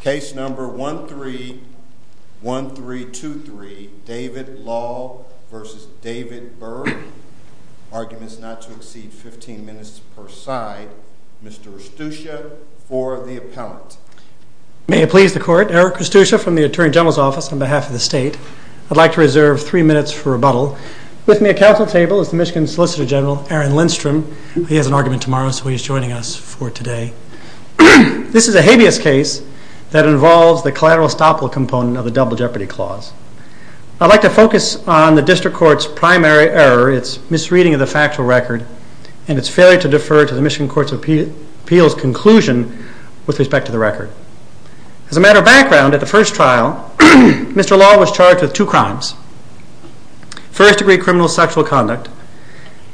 Case number 131323, David Lall v. David Bergh. Arguments not to exceed 15 minutes per side. Mr. Eustuchia for the appellant. May it please the court, Eric Eustuchia from the Attorney General's Office on behalf of the state. I'd like to reserve three minutes for rebuttal. With me at counsel's table is the Michigan Solicitor General, Aaron Lindstrom. He has an argument tomorrow, so he's joining us for today. This is a habeas case that involves the collateral estoppel component of the Double Jeopardy Clause. I'd like to focus on the district court's primary error, its misreading of the factual record, and its failure to defer to the Michigan Court of Appeal's conclusion with respect to the record. As a matter of background, at the first trial, Mr. Lall was charged with two crimes. First degree criminal sexual conduct,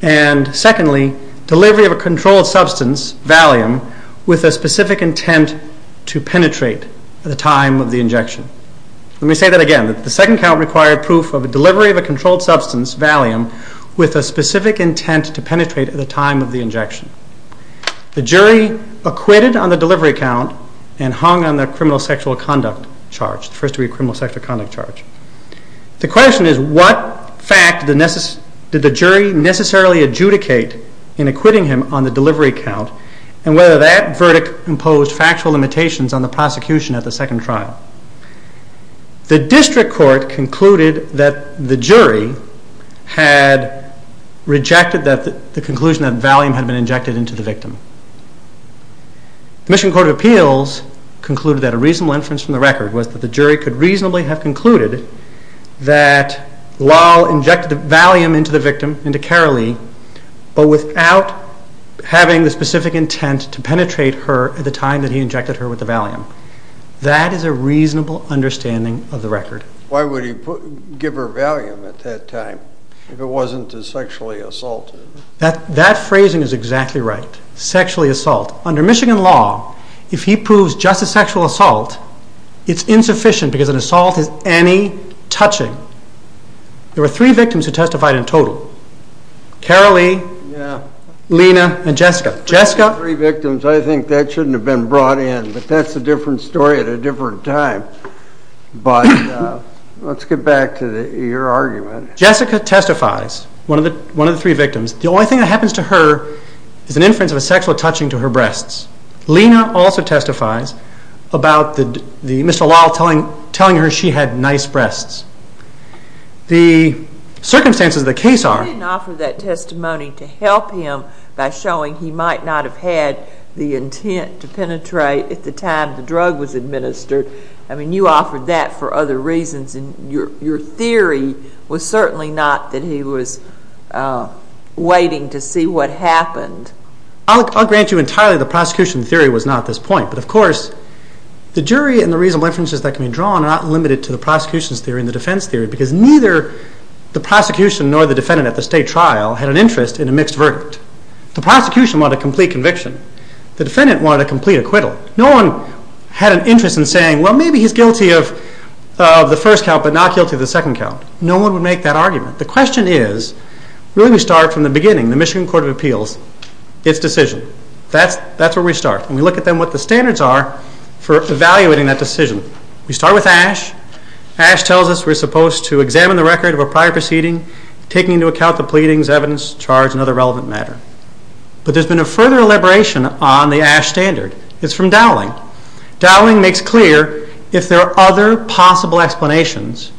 and secondly, delivery of a controlled substance, Valium, with a specific intent to penetrate at the time of the injection. Let me say that again. The second count required proof of delivery of a controlled substance, Valium, with a specific intent to penetrate at the time of the injection. The jury acquitted on the delivery count and hung on the criminal sexual conduct charge, the first degree criminal sexual conduct charge. The question is what fact did the jury necessarily adjudicate in acquitting him on the delivery count, and whether that verdict imposed factual limitations on the prosecution at the second trial. The district court concluded that the jury had rejected the conclusion that Valium had been injected into the victim. The Michigan Court of Appeals concluded that a reasonable inference from the record was that the jury could reasonably have concluded that Lall injected Valium into the victim, into Carolee, but without having the specific intent to penetrate her at the time that he injected her with the Valium. That is a reasonable understanding of the record. Why would he give her Valium at that time, if it wasn't to sexually assault her? That phrasing is exactly right. Sexually assault. Under Michigan law, if he proves just a sexual assault, it's insufficient because an assault is any touching. There were three victims who testified in total. Carolee, Lena, and Jessica. Three victims. I think that shouldn't have been brought in, but that's a different story at a different time. But let's get back to your argument. Jessica testifies, one of the three victims. The only thing that happens to her is an inference of a sexual touching to her breasts. Lena also testifies about Mr. Lall telling her she had nice breasts. The circumstances of the case are... You didn't offer that testimony to help him by showing he might not have had the intent to penetrate at the time the drug was administered. I mean, you offered that for other reasons, and your theory was certainly not that he was waiting to see what happened. I'll grant you entirely the prosecution theory was not at this point. But of course, the jury and the reasonable inferences that can be drawn are not limited to the prosecution's theory and the defense theory, because neither the prosecution nor the defendant at the state trial had an interest in a mixed verdict. The prosecution wanted a complete conviction. The defendant wanted a complete acquittal. No one had an interest in saying, well, maybe he's guilty of the first count, but not guilty of the second count. No one would make that argument. The question is, really we start from the beginning, the Michigan Court of Appeals, its decision. That's where we start. And we look at then what the standards are for evaluating that decision. We start with Ash. Ash tells us we're supposed to examine the record of a prior proceeding, taking into account the pleadings, evidence, charge, and other relevant matter. But there's been a further elaboration on the Ash standard. It's from Dowling. Dowling makes clear if there are other possible explanations,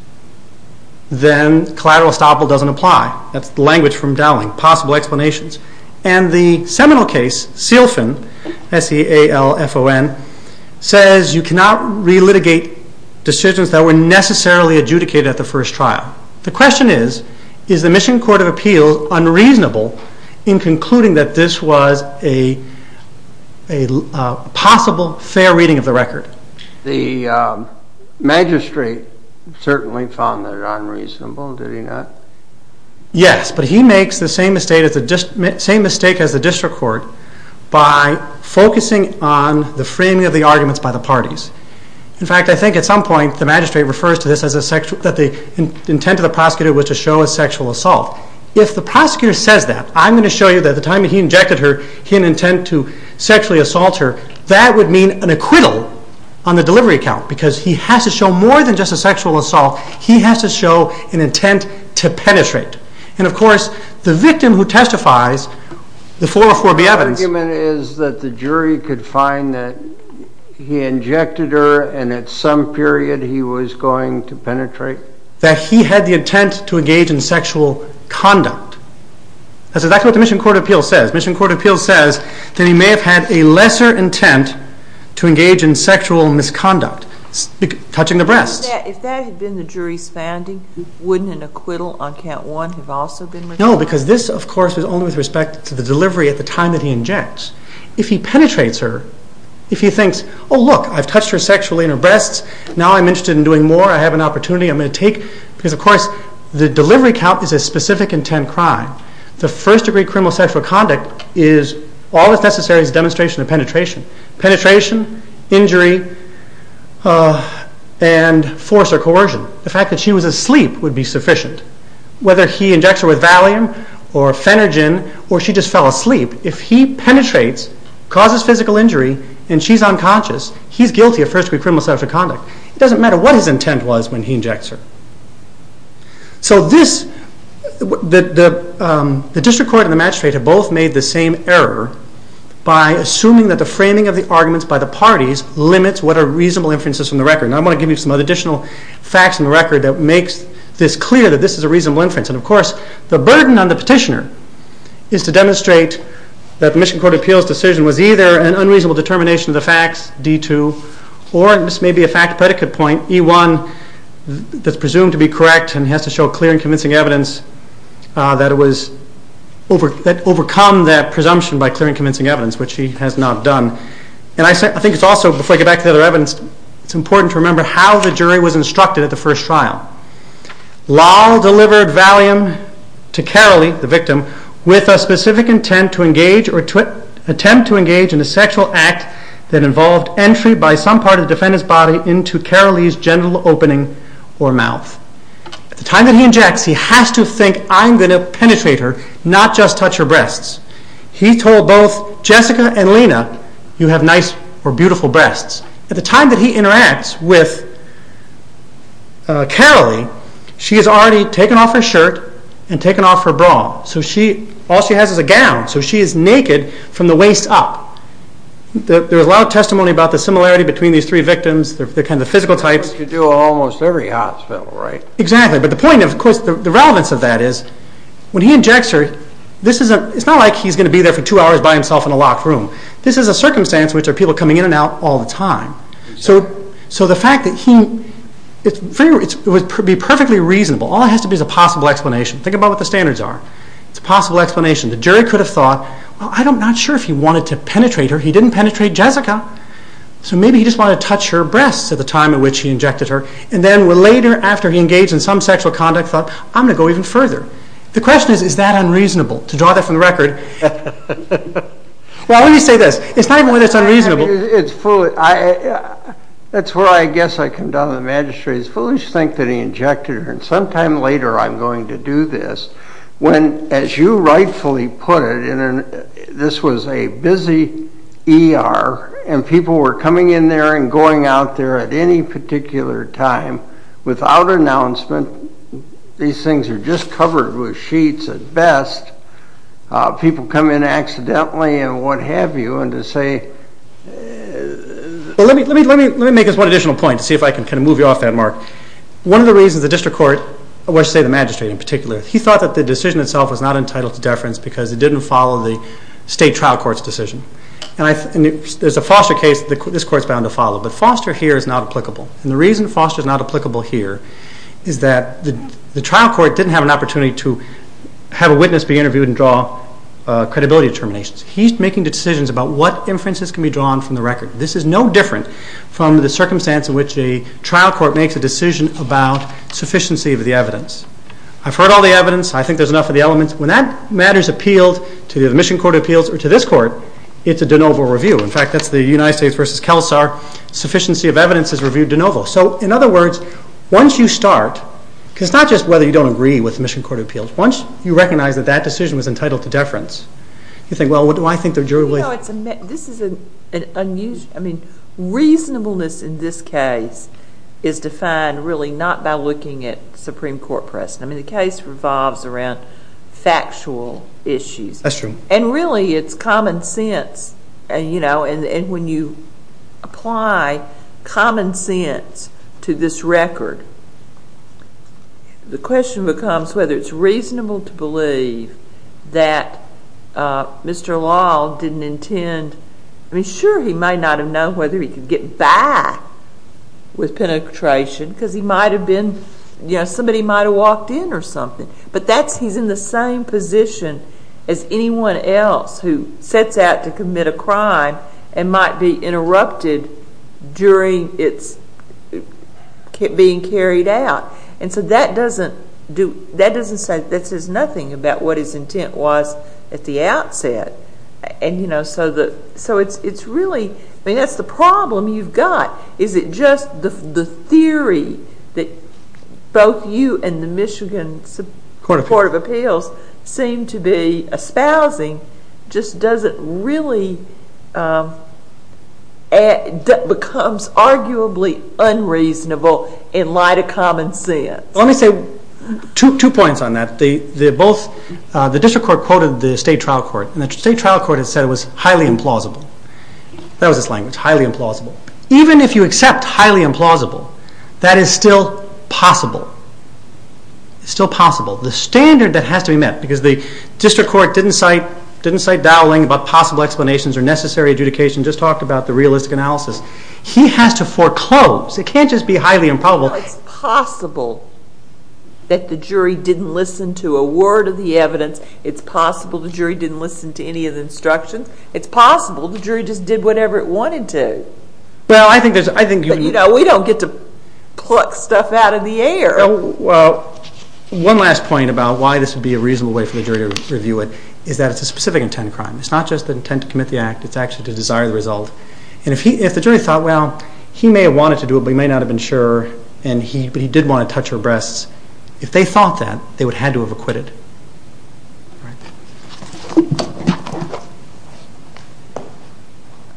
then collateral estoppel doesn't apply. That's the language from Dowling, possible explanations. And the seminal case, Sealfen, S-E-A-L-F-O-N, says you cannot relitigate decisions that were necessarily adjudicated at the first trial. Now, the question is, is the Michigan Court of Appeals unreasonable in concluding that this was a possible fair reading of the record? The magistrate certainly found that unreasonable, did he not? Yes, but he makes the same mistake as the district court by focusing on the framing of the arguments by the parties. In fact, I think at some point the magistrate refers to this as the intent of the prosecutor was to show a sexual assault. If the prosecutor says that, I'm going to show you that the time that he injected her, he had an intent to sexually assault her. That would mean an acquittal on the delivery account, because he has to show more than just a sexual assault. He has to show an intent to penetrate. And of course, the victim who testifies, the 404-B evidence... ...that he had the intent to engage in sexual conduct. That's exactly what the Michigan Court of Appeals says. Michigan Court of Appeals says that he may have had a lesser intent to engage in sexual misconduct, touching the breasts. If that had been the jury's finding, wouldn't an acquittal on count one have also been... No, because this, of course, was only with respect to the delivery at the time that he injects. If he penetrates her, if he thinks, oh look, I've touched her sexually in her breasts. Now I'm interested in doing more. I have an opportunity. I'm going to take... Because, of course, the delivery account is a specific intent crime. The first-degree criminal sexual conduct is all that's necessary is a demonstration of penetration. Penetration, injury, and force or coercion. The fact that she was asleep would be sufficient. Whether he injects her with Valium or Phenergen, or she just fell asleep. If he penetrates, causes physical injury, and she's unconscious, he's guilty of first-degree criminal sexual conduct. It doesn't matter what his intent was when he injects her. So the district court and the magistrate have both made the same error by assuming that the framing of the arguments by the parties limits what are reasonable inferences from the record. Now I'm going to give you some additional facts from the record that makes this clear that this is a reasonable inference. And, of course, the burden on the petitioner is to demonstrate that the Michigan Court of Appeals decision was either an unreasonable determination of the facts, D-2, or, and this may be a fact-predicate point, E-1, that's presumed to be correct and has to show clear and convincing evidence that it was... that overcome that presumption by clear and convincing evidence, which he has not done. And I think it's also, before I get back to the other evidence, it's important to remember how the jury was instructed at the first trial. Lal delivered Valium to Carolee, the victim, with a specific intent to engage or attempt to engage in a sexual act that involved entry by some part of the defendant's body into Carolee's genital opening or mouth. At the time that he injects, he has to think, I'm going to penetrate her, not just touch her breasts. He told both Jessica and Lena, you have nice or beautiful breasts. At the time that he interacts with Carolee, she has already taken off her shirt and taken off her bra. So she, all she has is a gown. So she is naked from the waist up. There's a lot of testimony about the similarity between these three victims, the kind of physical types. He could do almost every hospital, right? Exactly. But the point of, of course, the relevance of that is, when he injects her, this isn't, it's not like he's going to be there for two hours by himself in a locked room. This is a circumstance in which there are people coming in and out all the time. So the fact that he, it would be perfectly reasonable. All it has to be is a possible explanation. Think about what the standards are. It's a possible explanation. The jury could have thought, well, I'm not sure if he wanted to penetrate her. He didn't penetrate Jessica. So maybe he just wanted to touch her breasts at the time at which he injected her. And then later, after he engaged in some sexual conduct, thought, I'm going to go even further. The question is, is that unreasonable? To draw that from the record. Well, let me say this. It's not even whether it's unreasonable. It's foolish. That's where I guess I condone the magistrate. It's foolish to think that he injected her. And sometime later, I'm going to do this. When, as you rightfully put it, this was a busy ER, and people were coming in there and going out there at any particular time without announcement. These things are just covered with sheets at best. People come in accidentally and what have you. And to say... Well, let me make this one additional point to see if I can kind of move you off that, Mark. One of the reasons the district court, or I should say the magistrate in particular, he thought that the decision itself was not entitled to deference because it didn't follow the state trial court's decision. And there's a foster case that this court is bound to follow. But foster here is not applicable. And the reason foster is not applicable here is that the trial court didn't have an opportunity to have a witness be interviewed and draw credibility determinations. He's making the decisions about what inferences can be drawn from the record. This is no different from the circumstance in which a trial court makes a decision about sufficiency of the evidence. I've heard all the evidence. I think there's enough of the elements. When that matter is appealed to the admission court of appeals or to this court, it's a de novo review. In fact, that's the United States v. Kelsar sufficiency of evidence is reviewed de novo. So in other words, once you start... Because it's not just whether you don't agree with the admission court of appeals. Once you recognize that that decision was entitled to deference, you think, well, do I think there's... You know, this is an unusual... I mean, reasonableness in this case is defined really not by looking at Supreme Court precedent. I mean, the case revolves around factual issues. That's true. And really, it's common sense. And when you apply common sense to this record, the question becomes whether it's reasonable to believe that Mr. Lal didn't intend... I mean, sure, he might not have known whether he could get by with penetration because he might have been... You know, somebody might have walked in or something. But he's in the same position as anyone else who sets out to commit a crime and might be interrupted during its being carried out. And so that doesn't say... That says nothing about what his intent was at the outset. And, you know, so it's really... I mean, that's the problem you've got, is it just the theory that both you and the Michigan court of appeals seem to be espousing just doesn't really... becomes arguably unreasonable in light of common sense. Let me say two points on that. The district court quoted the state trial court, and the state trial court has said it was highly implausible. That was its language, highly implausible. Even if you accept highly implausible, that is still possible. It's still possible. The standard that has to be met, because the district court didn't cite dowling about possible explanations or necessary adjudication, just talked about the realistic analysis. He has to foreclose. It can't just be highly improbable. Well, it's possible that the jury didn't listen to a word of the evidence. It's possible the jury didn't listen to any of the instructions. It's possible the jury just did whatever it wanted to. Well, I think there's... But, you know, we don't get to pluck stuff out of the air. One last point about why this would be a reasonable way for the jury to review it is that it's a specific intent crime. It's not just the intent to commit the act. It's actually to desire the result. And if the jury thought, well, he may have wanted to do it, but he may not have been sure, but he did want to touch her breasts, if they thought that, they would have had to have acquitted.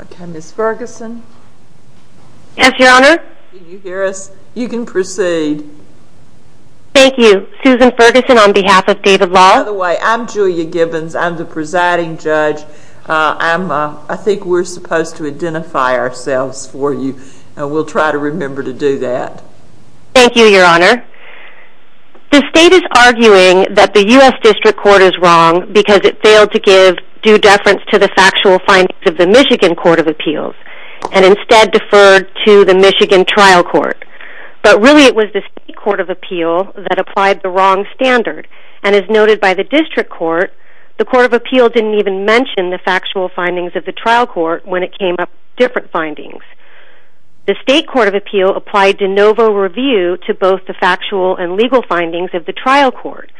Okay, Ms. Ferguson. Yes, Your Honor. Can you hear us? You can proceed. Thank you. Susan Ferguson on behalf of David Law. By the way, I'm Julia Gibbons. I'm the presiding judge. I think we're supposed to identify ourselves for you, and we'll try to remember to do that. Thank you, Your Honor. The state is arguing that the U.S. District Court is wrong because it failed to give due deference to the factual findings of the Michigan Court of Appeals and instead deferred to the Michigan Trial Court. But really, it was the state court of appeal that applied the wrong standard. And as noted by the district court, the court of appeal didn't even mention the factual findings of the trial court when it came up different findings. The state court of appeal applied de novo review to both the factual and legal findings of the trial court.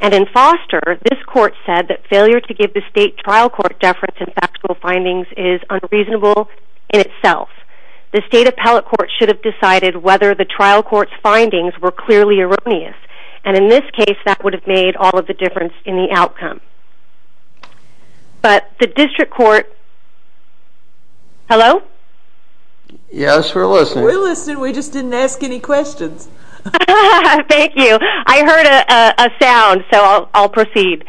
And in Foster, this court said that failure to give the state trial court deference in factual findings is unreasonable in itself. The state appellate court should have decided whether the trial court's findings were clearly erroneous. And in this case, that would have made all of the difference in the outcome. But the district court... Hello? Yes, we're listening. We're listening. We just didn't ask any questions. Thank you. I heard a sound, so I'll proceed.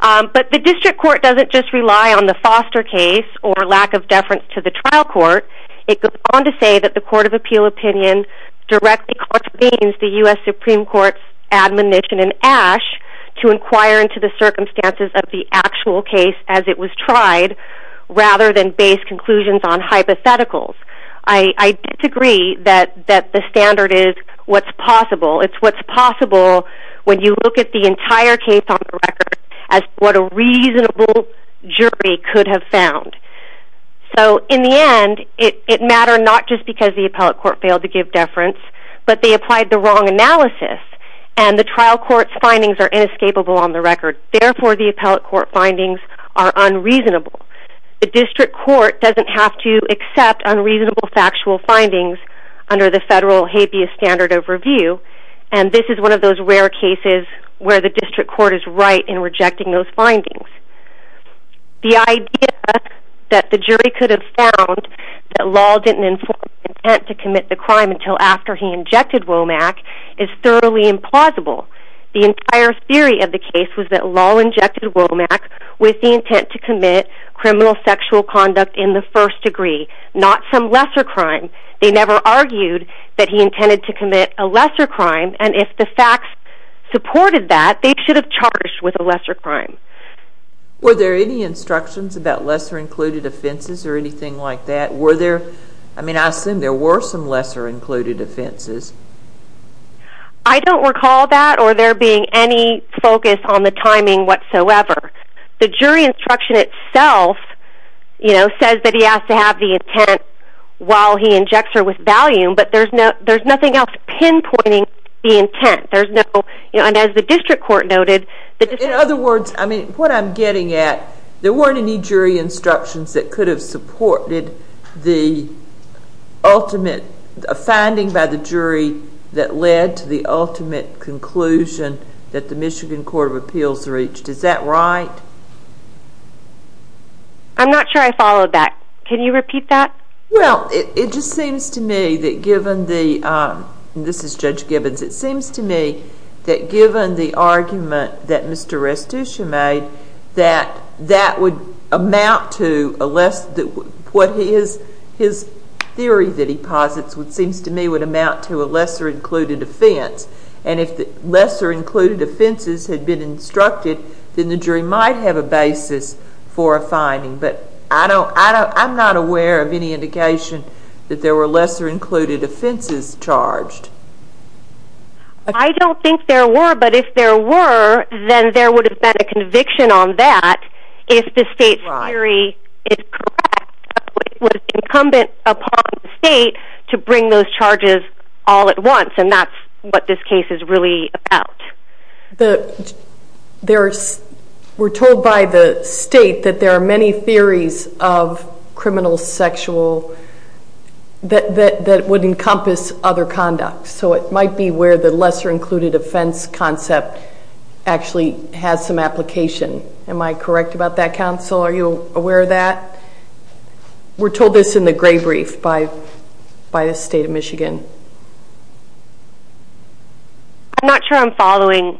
But the district court doesn't just rely on the Foster case or lack of deference to the trial court. It goes on to say that the court of appeal opinion directly contravenes the U.S. Supreme Court's admonition in Ashe to inquire into the circumstances of the actual case as it was tried rather than base conclusions on hypotheticals. I disagree that the standard is what's possible. It's what's possible when you look at the entire case on the record as what a reasonable jury could have found. So in the end, it mattered not just because the appellate court failed to give deference, but they applied the wrong analysis, and the trial court's findings are inescapable on the record. Therefore, the appellate court findings are unreasonable. The district court doesn't have to accept unreasonable factual findings under the federal habeas standard of review, and this is one of those rare cases where the district court is right in rejecting those findings. The idea that the jury could have found that Lahl didn't inform intent to commit the crime until after he injected Womack is thoroughly implausible. The entire theory of the case was that Lahl injected Womack with the intent to commit criminal sexual conduct in the first degree, not some lesser crime. They never argued that he intended to commit a lesser crime, and if the facts supported that, they should have charged with a lesser crime. Were there any instructions about lesser-included offenses or anything like that? I mean, I assume there were some lesser-included offenses. I don't recall that or there being any focus on the timing whatsoever. The jury instruction itself says that he has to have the intent while he injects her with Valium, but there's nothing else pinpointing the intent. And as the district court noted... In other words, what I'm getting at, there weren't any jury instructions that could have supported the ultimate finding by the jury that led to the ultimate conclusion that the Michigan Court of Appeals reached. Is that right? I'm not sure I followed that. Can you repeat that? Well, it just seems to me that given the... It just seems to me that given the argument that Mr. Restucia made that that would amount to a lesser... What his theory that he posits seems to me would amount to a lesser-included offense. And if the lesser-included offenses had been instructed, then the jury might have a basis for a finding. But I'm not aware of any indication that there were lesser-included offenses charged. I don't think there were, but if there were, then there would have been a conviction on that if the state's theory is correct that it was incumbent upon the state to bring those charges all at once, and that's what this case is really about. We're told by the state that there are many theories of criminal sexual... that would encompass other conduct. So it might be where the lesser-included offense concept actually has some application. Am I correct about that, counsel? Are you aware of that? We're told this in the gray brief by the state of Michigan. I'm not sure I'm following.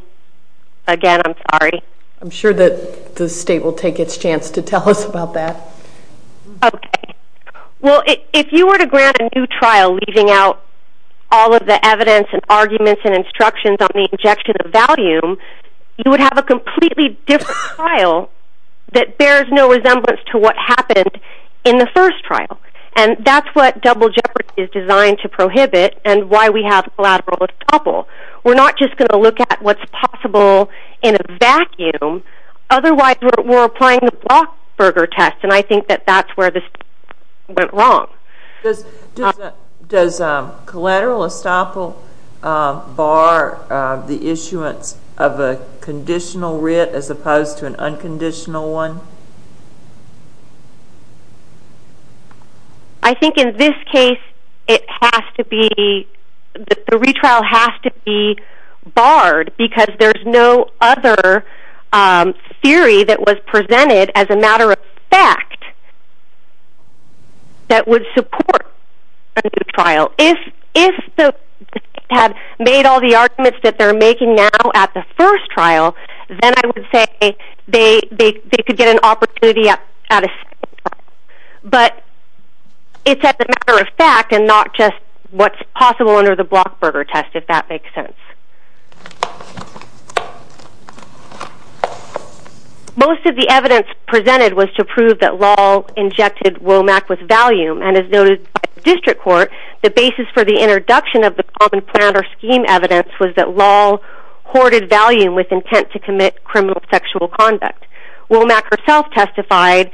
Again, I'm sorry. I'm sure that the state will take its chance to tell us about that. Okay. Well, if you were to grant a new trial leaving out all of the evidence and arguments and instructions on the injection of valium, you would have a completely different trial that bears no resemblance to what happened in the first trial. And that's what double jeopardy is designed to prohibit and why we have collateral double. We're not just going to look at what's possible in a vacuum. Otherwise, we're applying the Blochberger test, and I think that that's where this went wrong. Does collateral estoppel bar the issuance of a conditional writ as opposed to an unconditional one? I think in this case, it has to be... the retrial has to be barred because there's no other theory that was presented as a matter of fact that would support a new trial. If the state had made all the arguments that they're making now at the first trial, then I would say they could get an opportunity at a second trial. But it's as a matter of fact and not just what's possible under the Blochberger test, if that makes sense. Most of the evidence presented was to prove that Lall injected Womack with Valium, and as noted by the district court, the basis for the introduction of the common plan or scheme evidence was that Lall hoarded Valium with intent to commit criminal sexual conduct. Womack herself testified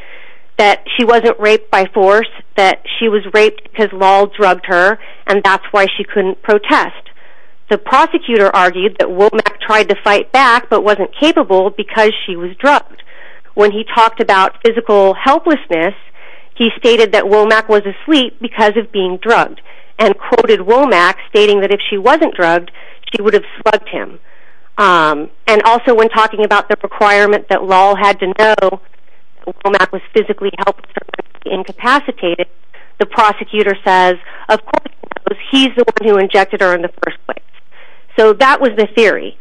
that she wasn't raped by force, that she was raped because Lall drugged her, and that's why she couldn't protest. The prosecutor argued that Womack tried to fight back but wasn't capable because she was drugged. When he talked about physical helplessness, he stated that Womack was asleep because of being drugged and quoted Womack stating that if she wasn't drugged, she would have slugged him. And also when talking about the requirement that Lall had to know Womack was physically helpless or incapacitated, the prosecutor says, of course he knows he's the one who injected her in the first place. So that was the theory.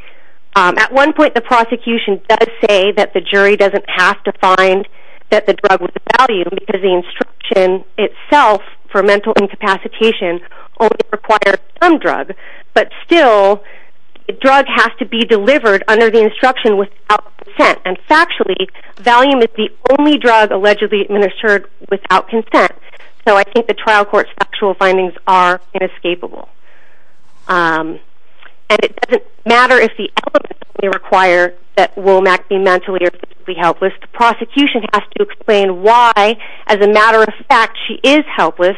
At one point the prosecution does say that the jury doesn't have to find that the drug was Valium because the instruction itself for mental incapacitation only requires some drug, but still the drug has to be delivered under the instruction without consent. And factually, Valium is the only drug allegedly administered without consent. So I think the trial court's factual findings are inescapable. And it doesn't matter if the element that we require that Womack be mentally or physically helpless, the prosecution has to explain why, as a matter of fact, she is helpless.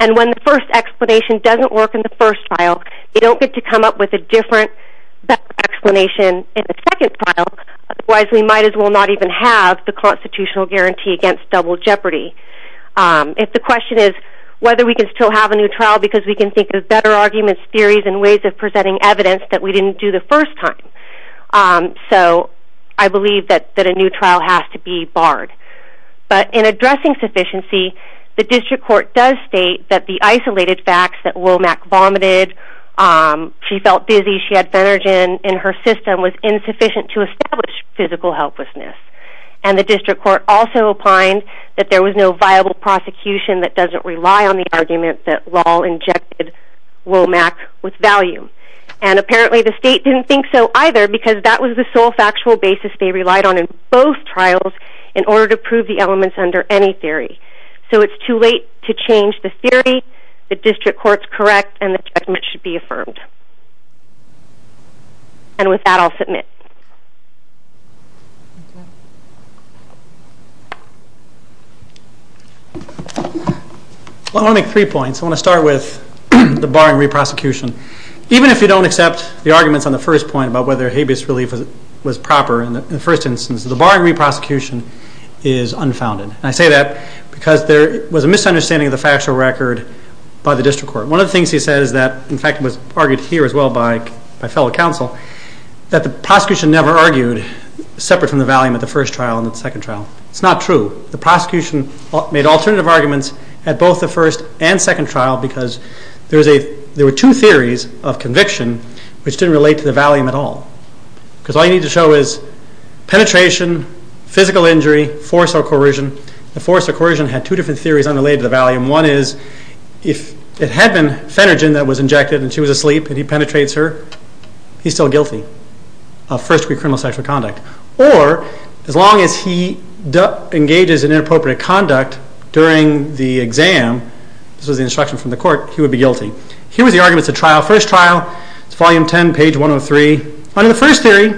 And when the first explanation doesn't work in the first trial, they don't get to come up with a different explanation in the second trial, otherwise we might as well not even have the constitutional guarantee against double jeopardy. If the question is whether we can still have a new trial because we can think of better arguments, theories, and ways of presenting evidence that we didn't do the first time. So I believe that a new trial has to be barred. But in addressing sufficiency, the district court does state that the isolated facts that Womack vomited, she felt dizzy, she had Fenergen in her system, was insufficient to establish physical helplessness. And the district court also opined that there was no viable prosecution that doesn't rely on the argument that Lahl injected Womack with value. And apparently the state didn't think so either because that was the sole factual basis they relied on in both trials in order to prove the elements under any theory. So it's too late to change the theory. The district court's correct and the judgment should be affirmed. And with that I'll submit. I want to make three points. I want to start with the barring re-prosecution. Even if you don't accept the arguments on the first point about whether habeas relief was proper in the first instance, the barring re-prosecution is unfounded. And I say that because there was a misunderstanding of the factual record by the district court. One of the things he said is that, in fact, was argued here as well by fellow counsel, that the prosecution never argued separate from the valium at the first trial and the second trial. It's not true. The prosecution made alternative arguments at both the first and second trial because there were two theories of conviction which didn't relate to the valium at all. Because all you need to show is penetration, The force or coercion had two different theories unrelated to the valium. One is, if it had been Phenergen that was injected and she was asleep and he penetrates her, he's still guilty of first-degree criminal sexual conduct. Or, as long as he engages in inappropriate conduct during the exam, this was the instruction from the court, he would be guilty. Here was the arguments at trial, first trial, it's volume 10, page 103. Under the first theory,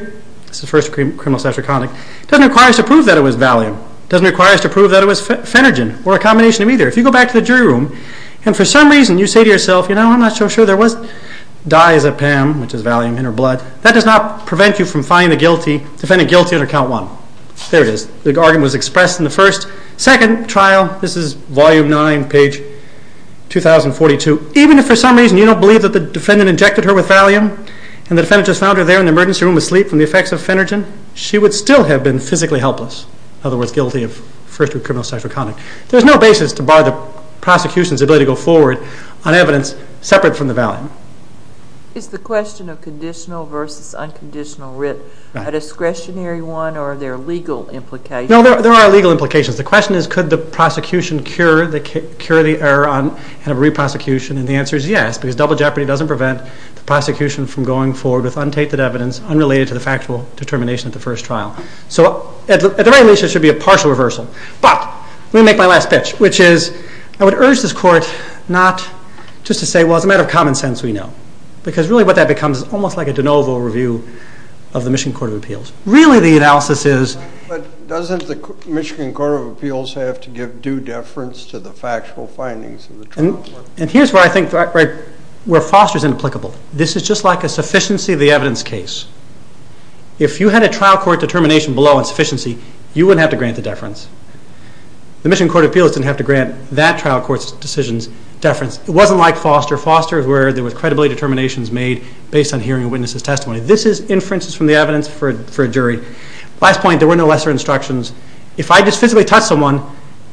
this is first-degree criminal sexual conduct, it doesn't require us to prove that it was valium. It doesn't require us to prove that it was Phenergen or a combination of either. If you go back to the jury room and for some reason you say to yourself, you know, I'm not so sure there was dizepam, which is valium in her blood, that does not prevent you from finding the defendant guilty under count 1. There it is. The argument was expressed in the first. Second trial, this is volume 9, page 2042. Even if for some reason you don't believe that the defendant injected her with valium and the defendant just found her there in the emergency room asleep from the effects of Phenergen, she would still have been physically helpless. In other words, guilty of first-degree criminal sexual conduct. There's no basis to bar the prosecution's ability to go forward on evidence separate from the valium. It's the question of conditional versus unconditional writ. A discretionary one or are there legal implications? No, there are legal implications. The question is could the prosecution cure the error and have a re-prosecution and the answer is yes because double jeopardy doesn't prevent the prosecution from going forward with untainted evidence unrelated to the factual determination of the first trial. So at the very least it should be a partial reversal. But, let me make my last pitch, which is I would urge this court not just to say well as a matter of common sense we know because really what that becomes is almost like a de novo review of the Michigan Court of Appeals. Really the analysis is... But doesn't the Michigan Court of Appeals have to give due deference to the factual findings of the trial? And here's where I think Foster's inapplicable. This is just like a sufficiency of the evidence case. If you had a trial court determination below on sufficiency you wouldn't have to grant the deference. The Michigan Court of Appeals didn't have to grant that trial court's decisions deference. It wasn't like Foster. Foster is where there was credibility determinations made based on hearing a witness's testimony. This is inferences from the evidence for a jury. Last point, there were no lesser instructions. If I just physically touch someone,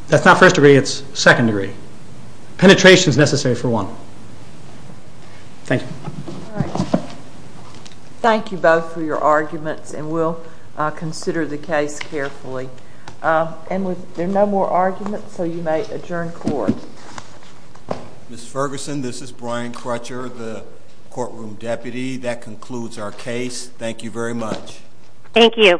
that's not first degree, it's second degree. Penetration is necessary for one. Thank you. Thank you both for your arguments and we'll consider the case carefully. There are no more arguments, so you may adjourn court. Ms. Ferguson, this is Brian Crutcher, the courtroom deputy. That concludes our case. Thank you very much. Thank you. The hearing is now adjourned.